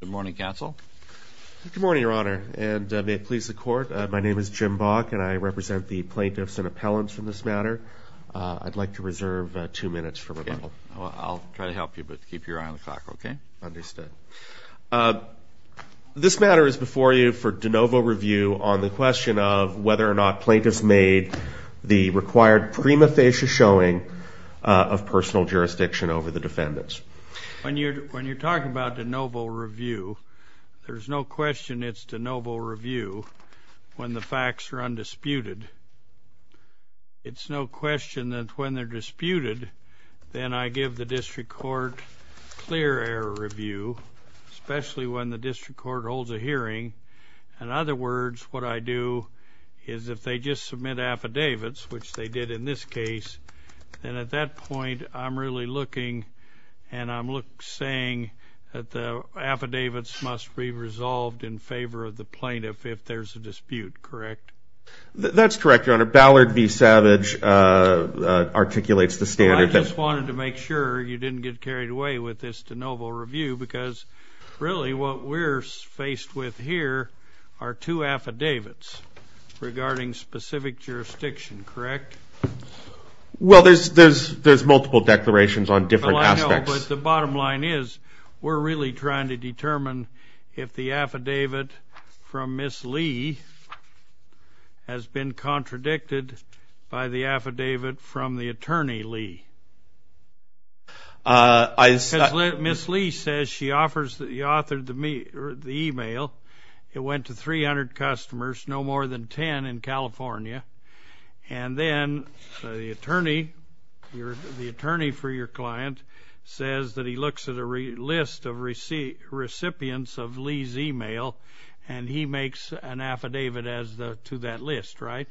Good morning, Counsel. Good morning, Your Honor, and may it please the Court. My name is Jim Bock, and I represent the plaintiffs and appellants for this matter. I'd like to reserve two minutes for rebuttal. Okay. I'll try to help you, but keep your eye on the clock, okay? Understood. This matter is before you for de novo review on the question of whether or not plaintiffs made the required prima facie showing of personal jurisdiction over the defendants. When you're talking about de novo review, there's no question it's de novo review when the facts are undisputed. It's no question that when they're disputed, then I give the district court clear error review, especially when the district court holds a hearing. In other words, what I do is if they just submit affidavits, which they did in this case, then at that point I'm really looking and I'm saying that the affidavits must be resolved in favor of the plaintiff if there's a dispute, correct? That's correct, Your Honor. Ballard v. Savage articulates the standard. Well, I just wanted to make sure you didn't get carried away with this de novo review because really what we're faced with here are two affidavits regarding specific jurisdiction, correct? Well, there's multiple declarations on different aspects. Well, I know, but the bottom line is we're really trying to determine if the affidavit from Ms. Lee has been contradicted by the affidavit from the attorney Lee. Ms. Lee says she authored the email. It went to 300 customers, no more than 10 in California. And then the attorney for your client says that he looks at a list of recipients of Lee's email and he makes an affidavit to that list, right?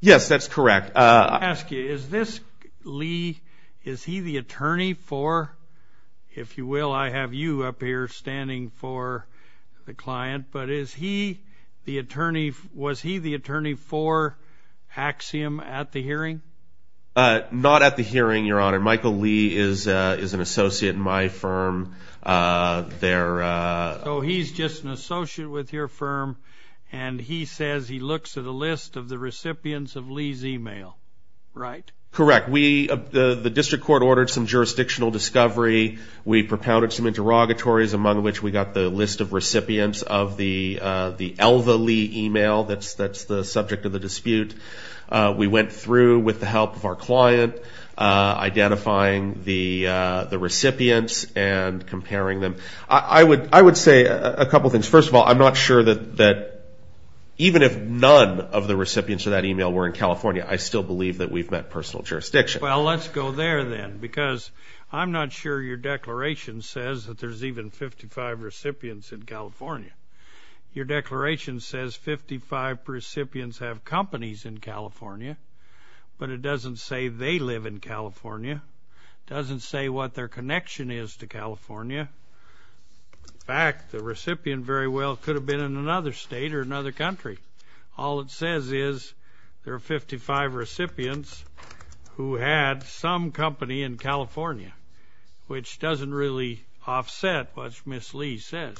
Yes, that's correct. Let me ask you, is this Lee, is he the attorney for, if you will, I have you up here standing for the client, but is he the attorney, was he the attorney for Axiom at the hearing? Not at the hearing, Your Honor. Michael Lee is an associate in my firm there. So he's just an associate with your firm and he says he looks at a list of the recipients of Lee's email, right? Correct. The district court ordered some jurisdictional discovery. We propounded some interrogatories, among which we got the list of recipients of the Elva Lee email that's the subject of the dispute. We went through with the help of our client, identifying the recipients and comparing them. I would say a couple things. First of all, I'm not sure that even if none of the recipients of that email were in California, I still believe that we've met personal jurisdiction. Well, let's go there then because I'm not sure your declaration says that there's even 55 recipients in California. Your declaration says 55 recipients have companies in California, but it doesn't say they live in California, doesn't say what their connection is to California. In fact, the recipient very well could have been in another state or another country. All it says is there are 55 recipients who had some company in California, which doesn't really offset what Ms. Lee says.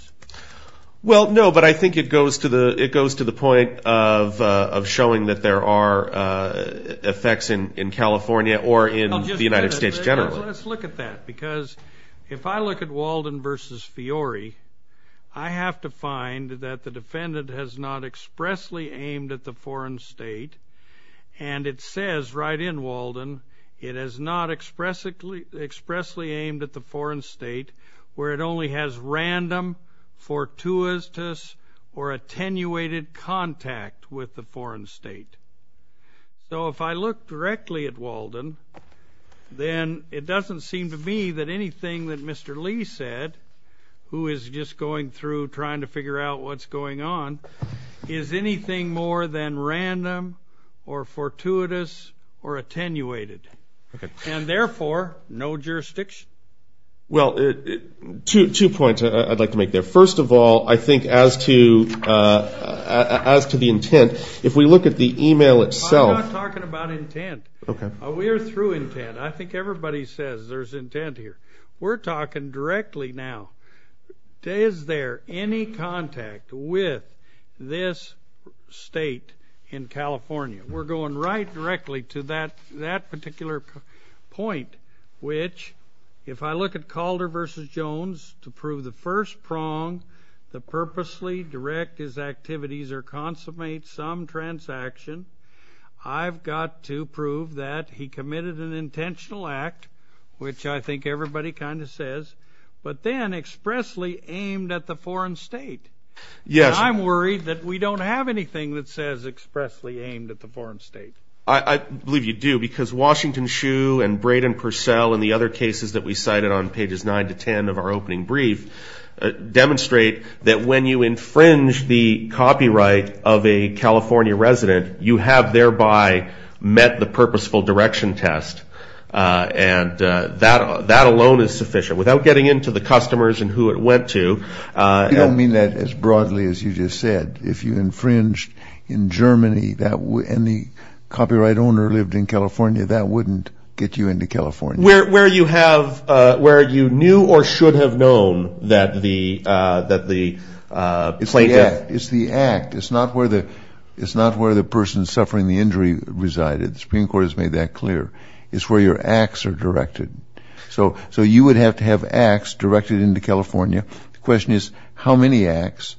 Well, no, but I think it goes to the point of showing that there are effects in California or in the United States generally. Let's look at that because if I look at Walden v. Fiore, I have to find that the defendant has not expressly aimed at the foreign state, and it says right in Walden it has not expressly aimed at the foreign state where it only has random, fortuitous, or attenuated contact with the foreign state. Then it doesn't seem to me that anything that Mr. Lee said, who is just going through trying to figure out what's going on, is anything more than random or fortuitous or attenuated. And therefore, no jurisdiction. Well, two points I'd like to make there. First of all, I think as to the intent, if we look at the e-mail itself. I'm not talking about intent. Okay. We are through intent. I think everybody says there's intent here. We're talking directly now. Is there any contact with this state in California? We're going right directly to that particular point, which if I look at Calder v. Jones to prove the first prong, the purposely direct his activities or consummate some transaction, I've got to prove that he committed an intentional act, which I think everybody kind of says, but then expressly aimed at the foreign state. Yes. And I'm worried that we don't have anything that says expressly aimed at the foreign state. I believe you do because Washington Shoe and Braden Purcell and the other cases that we cited on pages 9 to 10 of our opening brief demonstrate that when you infringe the copyright of a California resident, you have thereby met the purposeful direction test. And that alone is sufficient. Without getting into the customers and who it went to. You don't mean that as broadly as you just said. If you infringed in Germany and the copyright owner lived in California, that wouldn't get you into California. Where you knew or should have known that the plaintiff. It's the act. It's not where the person suffering the injury resided. The Supreme Court has made that clear. It's where your acts are directed. So you would have to have acts directed into California. The question is how many acts.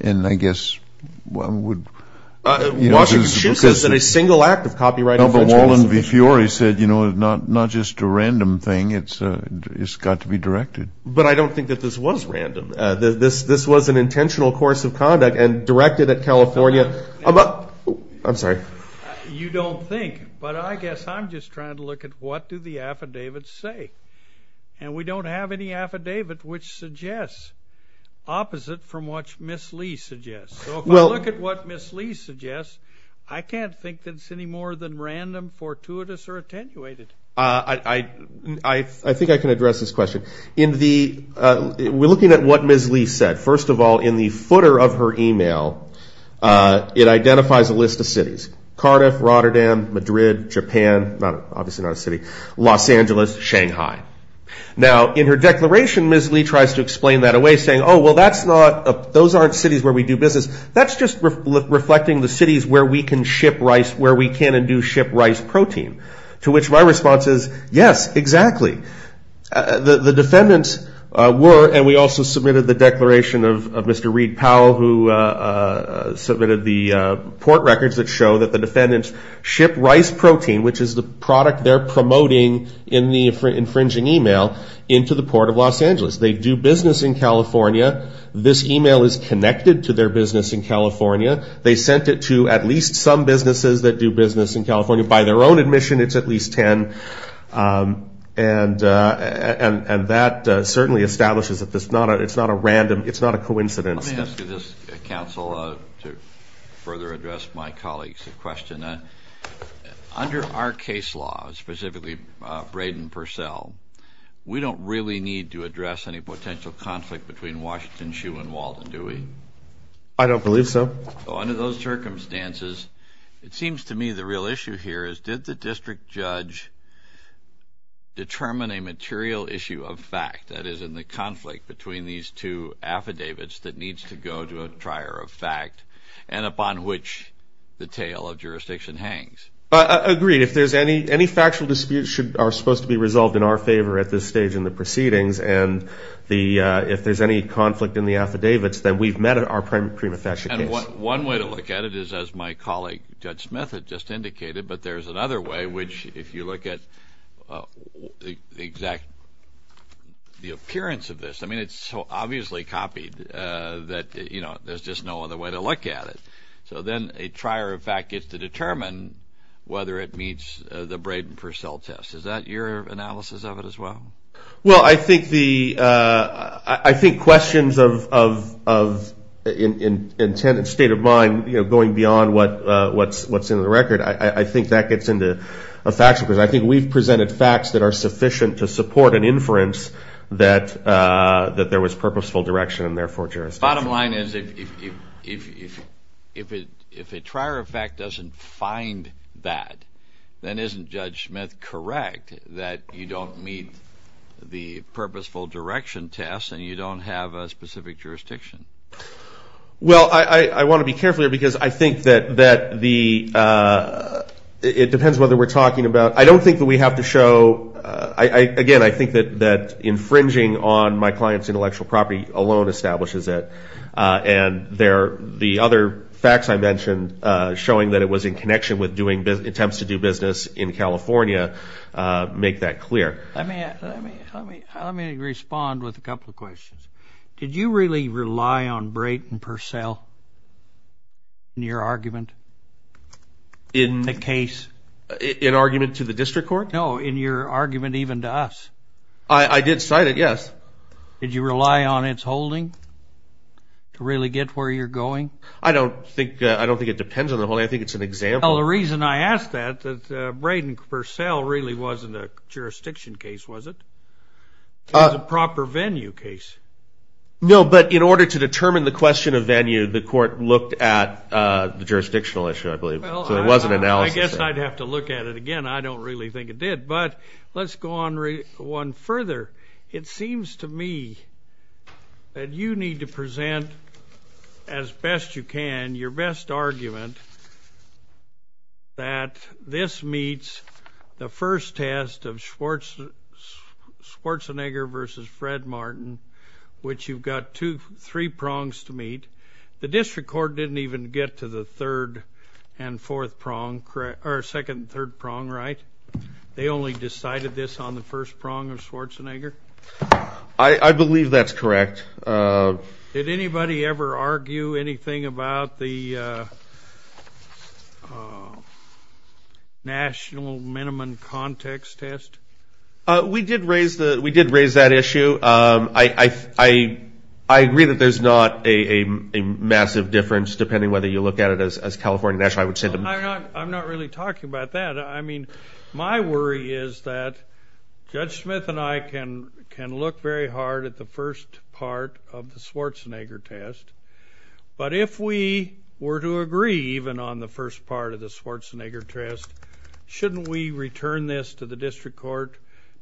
And I guess one would. Washington Shoe says that a single act of copyright infringement. But Wallen v. Fiore said, you know, not just a random thing. It's got to be directed. But I don't think that this was random. This was an intentional course of conduct and directed at California. I'm sorry. You don't think. But I guess I'm just trying to look at what do the affidavits say. And we don't have any affidavit which suggests opposite from what Miss Lee suggests. So if I look at what Miss Lee suggests, I can't think that it's any more than random, fortuitous, or attenuated. I think I can address this question. We're looking at what Miss Lee said. First of all, in the footer of her e-mail, it identifies a list of cities. Cardiff, Rotterdam, Madrid, Japan. Obviously not a city. Los Angeles, Shanghai. Now, in her declaration, Miss Lee tries to explain that away saying, oh, well, those aren't cities where we do business. That's just reflecting the cities where we can ship rice, where we can and do ship rice protein. To which my response is, yes, exactly. The defendants were, and we also submitted the declaration of Mr. Reid Powell, who submitted the port records that show that the defendants ship rice protein, which is the product they're promoting in the infringing e-mail, into the Port of Los Angeles. They do business in California. This e-mail is connected to their business in California. They sent it to at least some businesses that do business in California. By their own admission, it's at least 10. And that certainly establishes that it's not a random, it's not a coincidence. Let me ask you this, Counsel, to further address my colleague's question. Under our case law, specifically Braid and Purcell, we don't really need to address any potential conflict between Washington Shoe and Walden, do we? I don't believe so. Under those circumstances, it seems to me the real issue here is, did the district judge determine a material issue of fact that is in the conflict between these two affidavits that needs to go to a trier of fact and upon which the tale of jurisdiction hangs? Agreed. If there's any factual disputes that are supposed to be resolved in our favor at this stage in the proceedings and if there's any conflict in the affidavits, then we've met our prima facie case. One way to look at it is as my colleague Judge Smith had just indicated, but there's another way which if you look at the exact appearance of this, I mean it's so obviously copied that there's just no other way to look at it. So then a trier of fact gets to determine whether it meets the Braid and Purcell test. Is that your analysis of it as well? Well, I think questions of intent and state of mind going beyond what's in the record, I think that gets into a factual question. I think we've presented facts that are sufficient to support an inference that there was purposeful direction and therefore jurisdiction. Bottom line is if a trier of fact doesn't find that, then isn't Judge Smith correct that you don't meet the purposeful direction test and you don't have a specific jurisdiction? Well, I want to be careful here because I think that it depends on whether we're talking about. I don't think that we have to show. Again, I think that infringing on my client's intellectual property alone establishes it. And the other facts I mentioned, showing that it was in connection with attempts to do business in California, make that clear. Let me respond with a couple of questions. Did you really rely on Braid and Purcell in your argument? In the case? In argument to the district court? No, in your argument even to us. I did cite it, yes. Did you rely on its holding to really get where you're going? I don't think it depends on the holding. I think it's an example. Well, the reason I ask that is that Braid and Purcell really wasn't a jurisdiction case, was it? It was a proper venue case. No, but in order to determine the question of venue, the court looked at the jurisdictional issue, I believe. So it was an analysis. I guess I'd have to look at it again. I don't really think it did. But let's go on one further. It seems to me that you need to present as best you can, your best argument, that this meets the first test of Schwarzenegger versus Fred Martin, which you've got three prongs to meet. The district court didn't even get to the third and fourth prong, or second and third prong, right? They only decided this on the first prong of Schwarzenegger? I believe that's correct. Did anybody ever argue anything about the national minimum context test? We did raise that issue. I agree that there's not a massive difference, depending on whether you look at it as California national. I'm not really talking about that. I mean, my worry is that Judge Smith and I can look very hard at the first part of the Schwarzenegger test, but if we were to agree even on the first part of the Schwarzenegger test, shouldn't we return this to the district court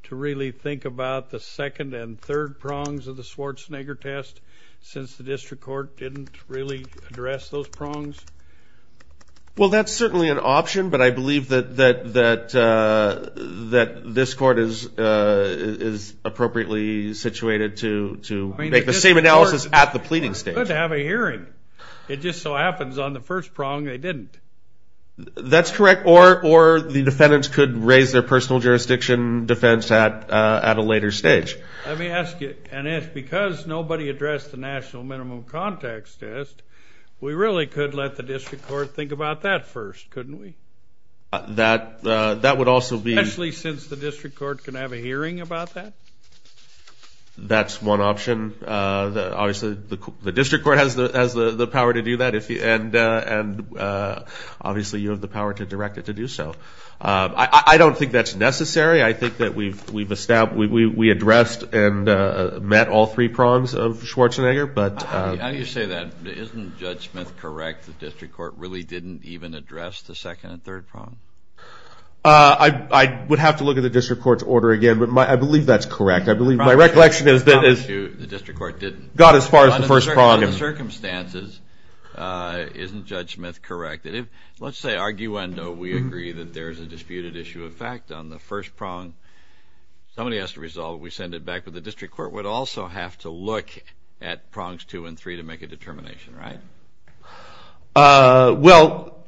to really think about the second and third prongs of the Schwarzenegger test, since the district court didn't really address those prongs? Well, that's certainly an option, but I believe that this court is appropriately situated to make the same analysis at the pleading stage. They could have a hearing. It just so happens on the first prong they didn't. That's correct, or the defendants could raise their personal jurisdiction defense at a later stage. Let me ask you, and it's because nobody addressed the national minimum context test, but we really could let the district court think about that first, couldn't we? That would also be. Especially since the district court can have a hearing about that. That's one option. Obviously, the district court has the power to do that, and obviously you have the power to direct it to do so. I don't think that's necessary. I think that we addressed and met all three prongs of Schwarzenegger. How do you say that? Isn't Judge Smith correct that the district court really didn't even address the second and third prong? I would have to look at the district court's order again, but I believe that's correct. I believe my recollection is that it got as far as the first prong. Under the circumstances, isn't Judge Smith correct? Let's say, arguendo, we agree that there is a disputed issue of fact on the first prong. Somebody has to resolve it. We send it back. But the district court would also have to look at prongs two and three to make a determination, right? Well,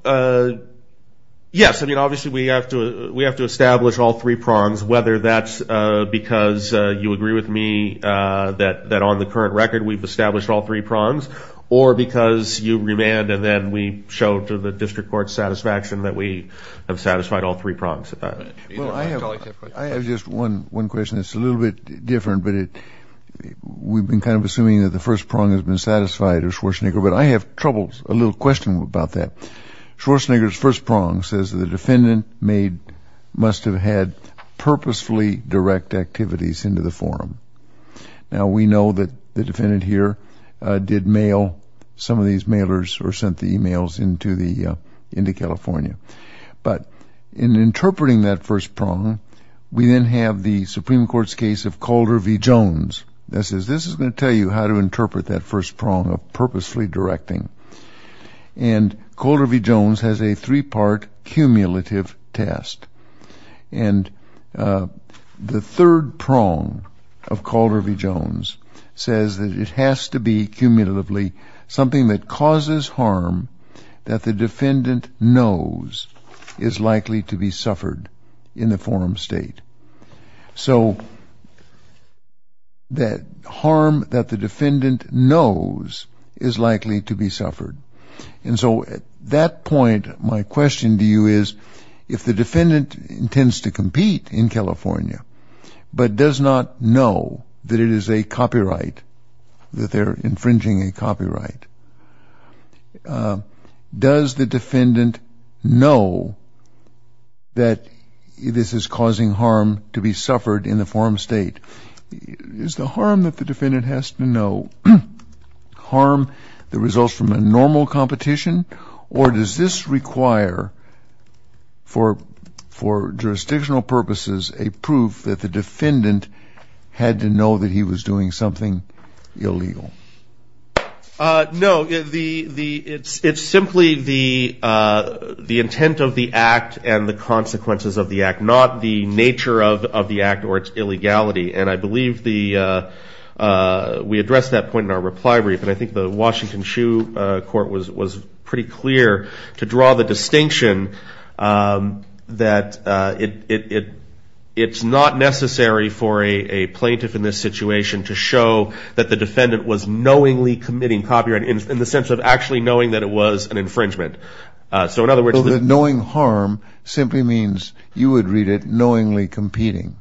yes. I mean, obviously we have to establish all three prongs, whether that's because you agree with me that on the current record we've established all three prongs, or because you remand and then we show to the district court's satisfaction that we have satisfied all three prongs. I have just one question that's a little bit different, but we've been kind of assuming that the first prong has been satisfied of Schwarzenegger. But I have trouble, a little question about that. Schwarzenegger's first prong says that the defendant must have had purposefully direct activities into the forum. Now, we know that the defendant here did mail some of these mailers or sent the emails into California. But in interpreting that first prong, we then have the Supreme Court's case of Calder v. Jones that says, this is going to tell you how to interpret that first prong of purposefully directing. And Calder v. Jones has a three-part cumulative test. And the third prong of Calder v. Jones says that it has to be cumulatively something that causes harm that the defendant knows is likely to be suffered in the forum state. So that harm that the defendant knows is likely to be suffered. And so at that point, my question to you is, if the defendant intends to compete in California, but does not know that it is a copyright, that they're infringing a copyright, does the defendant know that this is causing harm to be suffered in the forum state? Is the harm that the defendant has to know harm the results from a normal competition? Or does this require, for jurisdictional purposes, a proof that the defendant had to know that he was doing something illegal? No. It's simply the intent of the act and the consequences of the act, not the nature of the act or its illegality. And I believe we addressed that point in our reply brief. And I think the Washington Shoe Court was pretty clear to draw the distinction that it's not necessary for a plaintiff in this situation to show that the defendant was knowingly committing copyright, in the sense of actually knowing that it was an infringement. So in other words, the knowing harm simply means you would read it knowingly competing.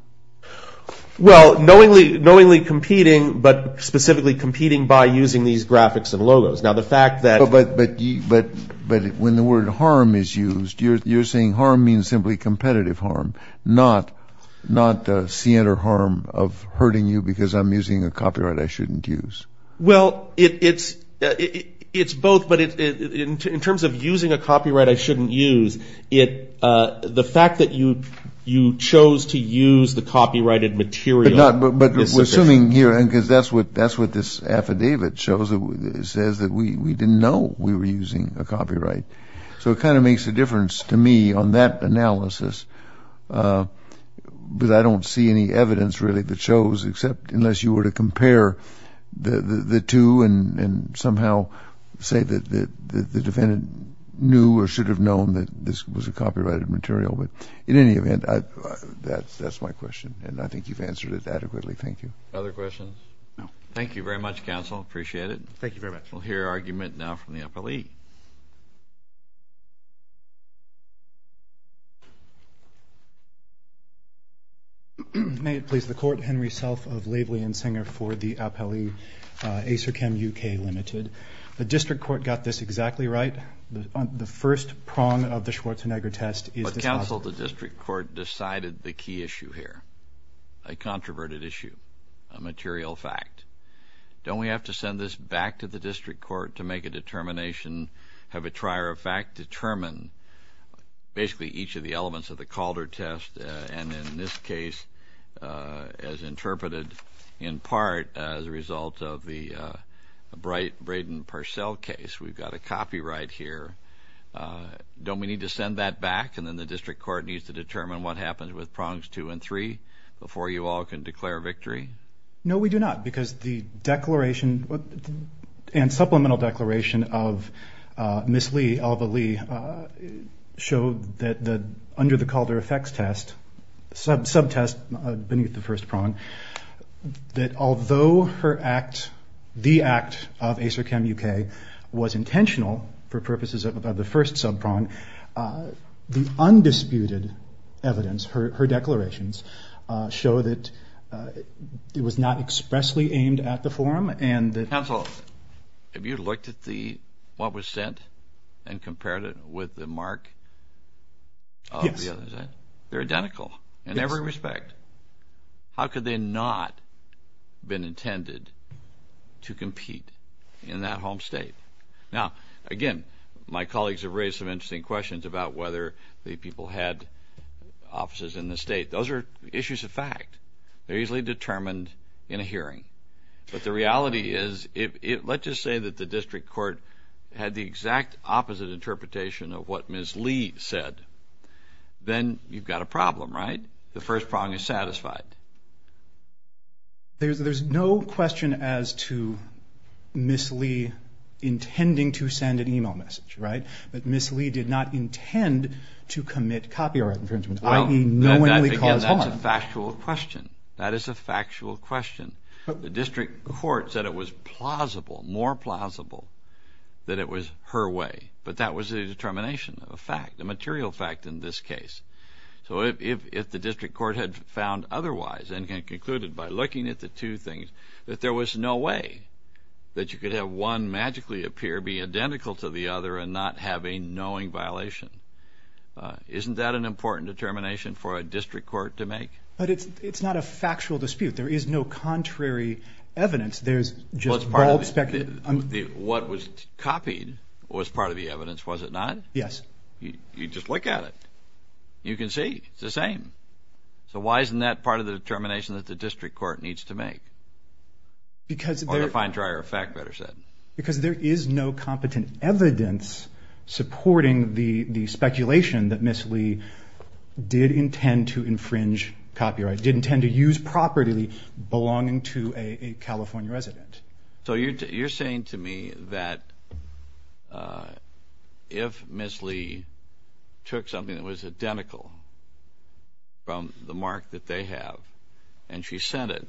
Well, knowingly competing, but specifically competing by using these graphics and logos. Now, the fact that... But when the word harm is used, you're saying harm means simply competitive harm, not the scienter harm of hurting you because I'm using a copyright I shouldn't use. Well, it's both. But in terms of using a copyright I shouldn't use, the fact that you chose to use the copyrighted material is sufficient. But we're assuming here, because that's what this affidavit shows, it says that we didn't know we were using a copyright. So it kind of makes a difference to me on that analysis. But I don't see any evidence, really, that shows, except unless you were to compare the two and somehow say that the defendant knew or should have known that this was a copyrighted material. But in any event, that's my question, and I think you've answered it adequately. Thank you. Other questions? No. Thank you very much, counsel. Appreciate it. Thank you very much. We'll hear argument now from the appellee. May it please the Court, Henry Self of Laveley and Singer for the appellee, Acerchem UK Limited. The district court got this exactly right. The first prong of the Schwarzenegger test is this. But, counsel, the district court decided the key issue here, a controverted issue, a material fact. Don't we have to send this back to the district court to make a determination, have a trier of fact determine basically each of the elements of the Calder test, and in this case, as interpreted in part as a result of the Bright-Braden-Purcell case, we've got a copyright here. Don't we need to send that back, and then the district court needs to determine what happens with prongs two and three before you all can declare victory? No, we do not, because the declaration and supplemental declaration of Ms. Lee, Alva Lee, showed that under the Calder effects test, sub-test beneath the first prong, that although her act, the act of Acerchem UK, was intentional for purposes of the first sub-prong, the undisputed evidence, her declarations, show that it was not expressly aimed at the forum. Counsel, have you looked at what was sent and compared it with the mark? Yes. They're identical in every respect. How could they not have been intended to compete in that home state? Now, again, my colleagues have raised some interesting questions about whether the people had offices in the state. Those are issues of fact. They're usually determined in a hearing, but the reality is, let's just say that the district court had the exact opposite interpretation of what Ms. Lee said. Then you've got a problem, right? Then the first prong is satisfied. There's no question as to Ms. Lee intending to send an e-mail message, right? But Ms. Lee did not intend to commit copyright infringement, i.e., knowingly cause harm. Again, that's a factual question. That is a factual question. The district court said it was plausible, more plausible, that it was her way, but that was a determination of a fact, a material fact in this case. So if the district court had found otherwise and concluded by looking at the two things that there was no way that you could have one magically appear, be identical to the other, and not have a knowing violation, isn't that an important determination for a district court to make? But it's not a factual dispute. There is no contrary evidence. There's just bald speculation. What was copied was part of the evidence, was it not? Yes. You just look at it. You can see it's the same. So why isn't that part of the determination that the district court needs to make? Or the fine dryer of fact, better said. Because there is no competent evidence supporting the speculation that Ms. Lee did intend to infringe copyright, did intend to use property belonging to a California resident. So you're saying to me that if Ms. Lee took something that was identical from the mark that they have and she sent it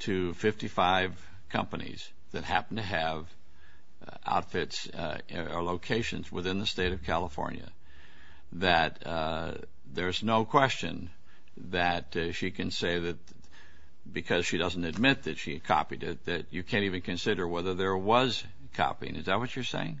to 55 companies that happen to have outfits or locations within the state of California, that there's no question that she can say that because she doesn't admit that she copied it that you can't even consider whether there was copying. Is that what you're saying?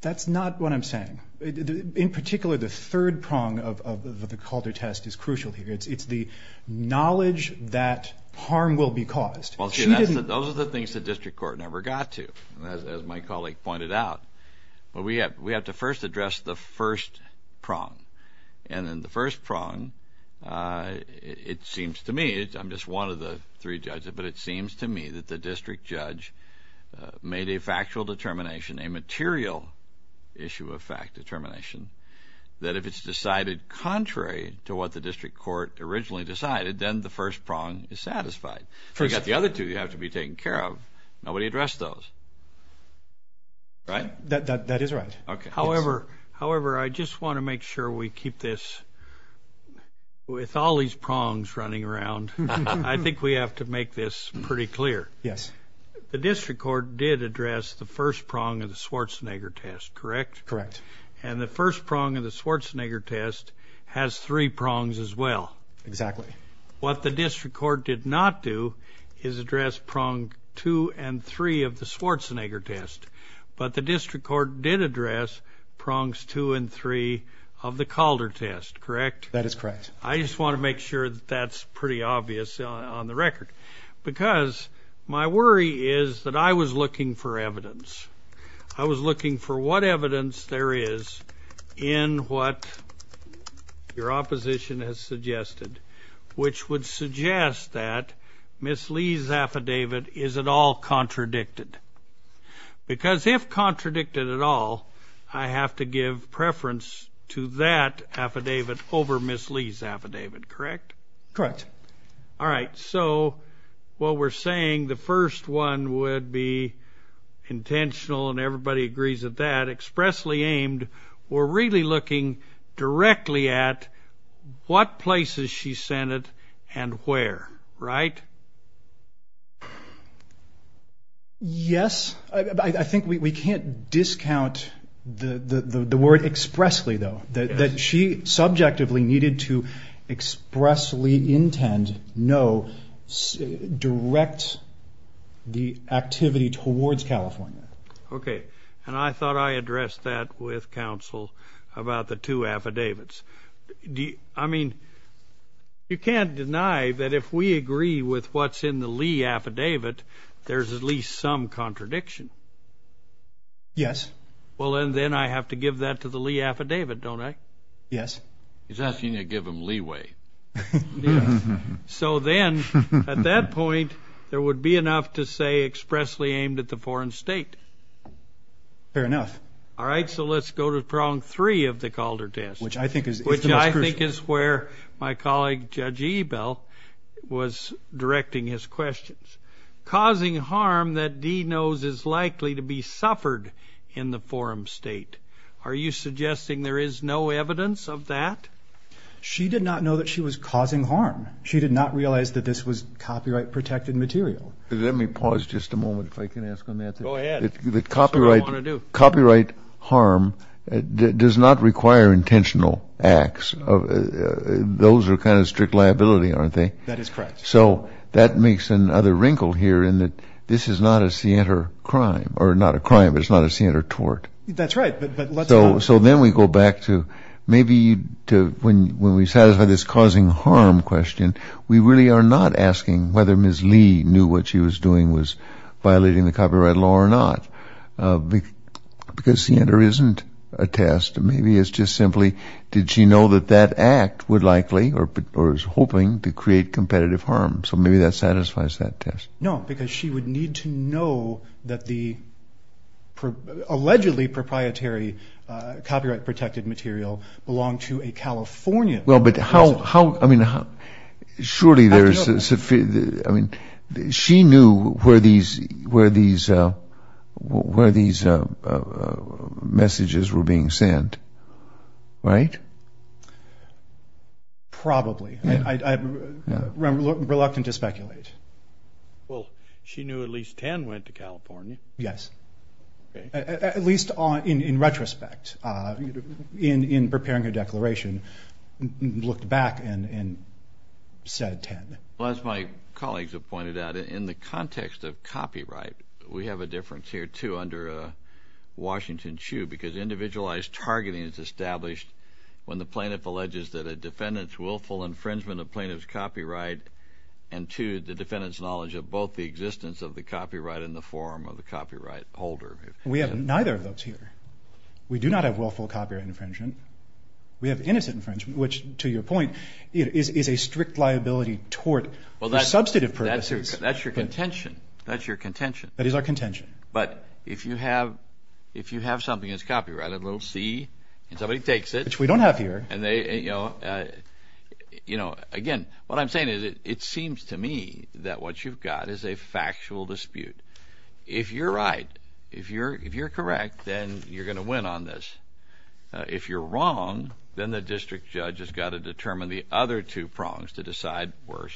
That's not what I'm saying. In particular, the third prong of the Calder test is crucial here. It's the knowledge that harm will be caused. Those are the things the district court never got to, as my colleague pointed out. We have to first address the first prong. And in the first prong, it seems to me, I'm just one of the three judges, but it seems to me that the district judge made a factual determination, a material issue of fact determination, that if it's decided contrary to what the district court originally decided, then the first prong is satisfied. You've got the other two you have to be taken care of. Nobody addressed those, right? That is right. However, I just want to make sure we keep this with all these prongs running around. I think we have to make this pretty clear. Yes. The district court did address the first prong of the Schwarzenegger test, correct? Correct. And the first prong of the Schwarzenegger test has three prongs as well. Exactly. What the district court did not do is address prong two and three of the Schwarzenegger test, but the district court did address prongs two and three of the Calder test, correct? That is correct. I just want to make sure that that's pretty obvious on the record because my worry is that I was looking for evidence. I was looking for what evidence there is in what your opposition has suggested, which would suggest that Ms. Lee's affidavit is at all contradicted because if contradicted at all, I have to give preference to that affidavit over Ms. Lee's affidavit, correct? Correct. All right. So what we're saying, the first one would be intentional, and everybody agrees with that, expressly aimed. We're really looking directly at what places she sent it and where, right? Yes. I think we can't discount the word expressly, though, that she subjectively needed to expressly intend, no, direct the activity towards California. Okay. And I thought I addressed that with counsel about the two affidavits. I mean, you can't deny that if we agree with what's in the Lee affidavit, there's at least some contradiction. Yes. Well, then I have to give that to the Lee affidavit, don't I? Yes. He's asking you to give him leeway. So then, at that point, there would be enough to say expressly aimed at the foreign state. Fair enough. All right. So let's go to problem three of the Calder test. Which I think is the most crucial. Which I think is where my colleague, Judge Ebell, was directing his questions. Causing harm that D knows is likely to be suffered in the foreign state. Are you suggesting there is no evidence of that? She did not know that she was causing harm. She did not realize that this was copyright-protected material. Let me pause just a moment if I can ask him that. Go ahead. Copyright harm does not require intentional acts. Those are kind of strict liability, aren't they? That is correct. So that makes another wrinkle here in that this is not a scienter crime. Or not a crime, but it's not a scienter tort. That's right. So then we go back to maybe when we satisfy this causing harm question, we really are not asking whether Ms. Lee knew what she was doing was violating the copyright law or not. Because scienter isn't a test. Maybe it's just simply did she know that that act would likely or is hoping to create competitive harm. So maybe that satisfies that test. No, because she would need to know that the allegedly proprietary copyright-protected material belonged to a Californian. Well, but surely she knew where these messages were being sent, right? Probably. I'm reluctant to speculate. Well, she knew at least 10 went to California. Yes. At least in retrospect, in preparing her declaration, looked back and said 10. Well, as my colleagues have pointed out, in the context of copyright, we have a difference here, too, under a Washington shoe, because individualized targeting is established when the plaintiff alleges that a defendant's willful infringement of plaintiff's copyright enthused the defendant's knowledge of both the existence of the copyright but in the form of the copyright holder. We have neither of those here. We do not have willful copyright infringement. We have innocent infringement, which, to your point, is a strict liability tort for substantive purposes. That's your contention. That is our contention. But if you have something that's copyrighted, a little C, and somebody takes it. Which we don't have here. Again, what I'm saying is it seems to me that what you've got is a factual dispute. If you're right, if you're correct, then you're going to win on this. If you're wrong, then the district judge has got to determine the other two prongs to decide where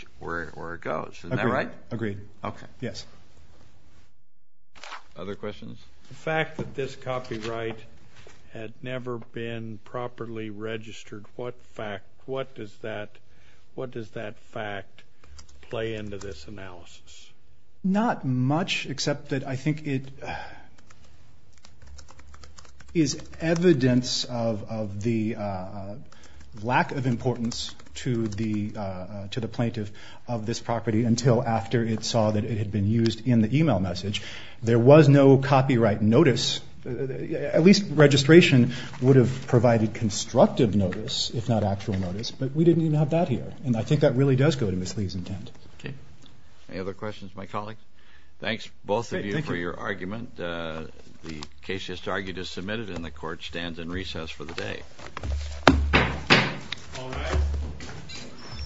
it goes. Isn't that right? Agreed. Okay. Yes. Other questions? The fact that this copyright had never been properly registered, what does that fact play into this analysis? Not much, except that I think it is evidence of the lack of importance to the plaintiff of this property until after it saw that it had been used in the e-mail message. There was no copyright notice. At least registration would have provided constructive notice, if not actual notice. But we didn't even have that here. And I think that really does go to Ms. Lee's intent. Okay. Any other questions of my colleagues? Thanks, both of you, for your argument. The case just argued is submitted, and the Court stands in recess for the day. All rise.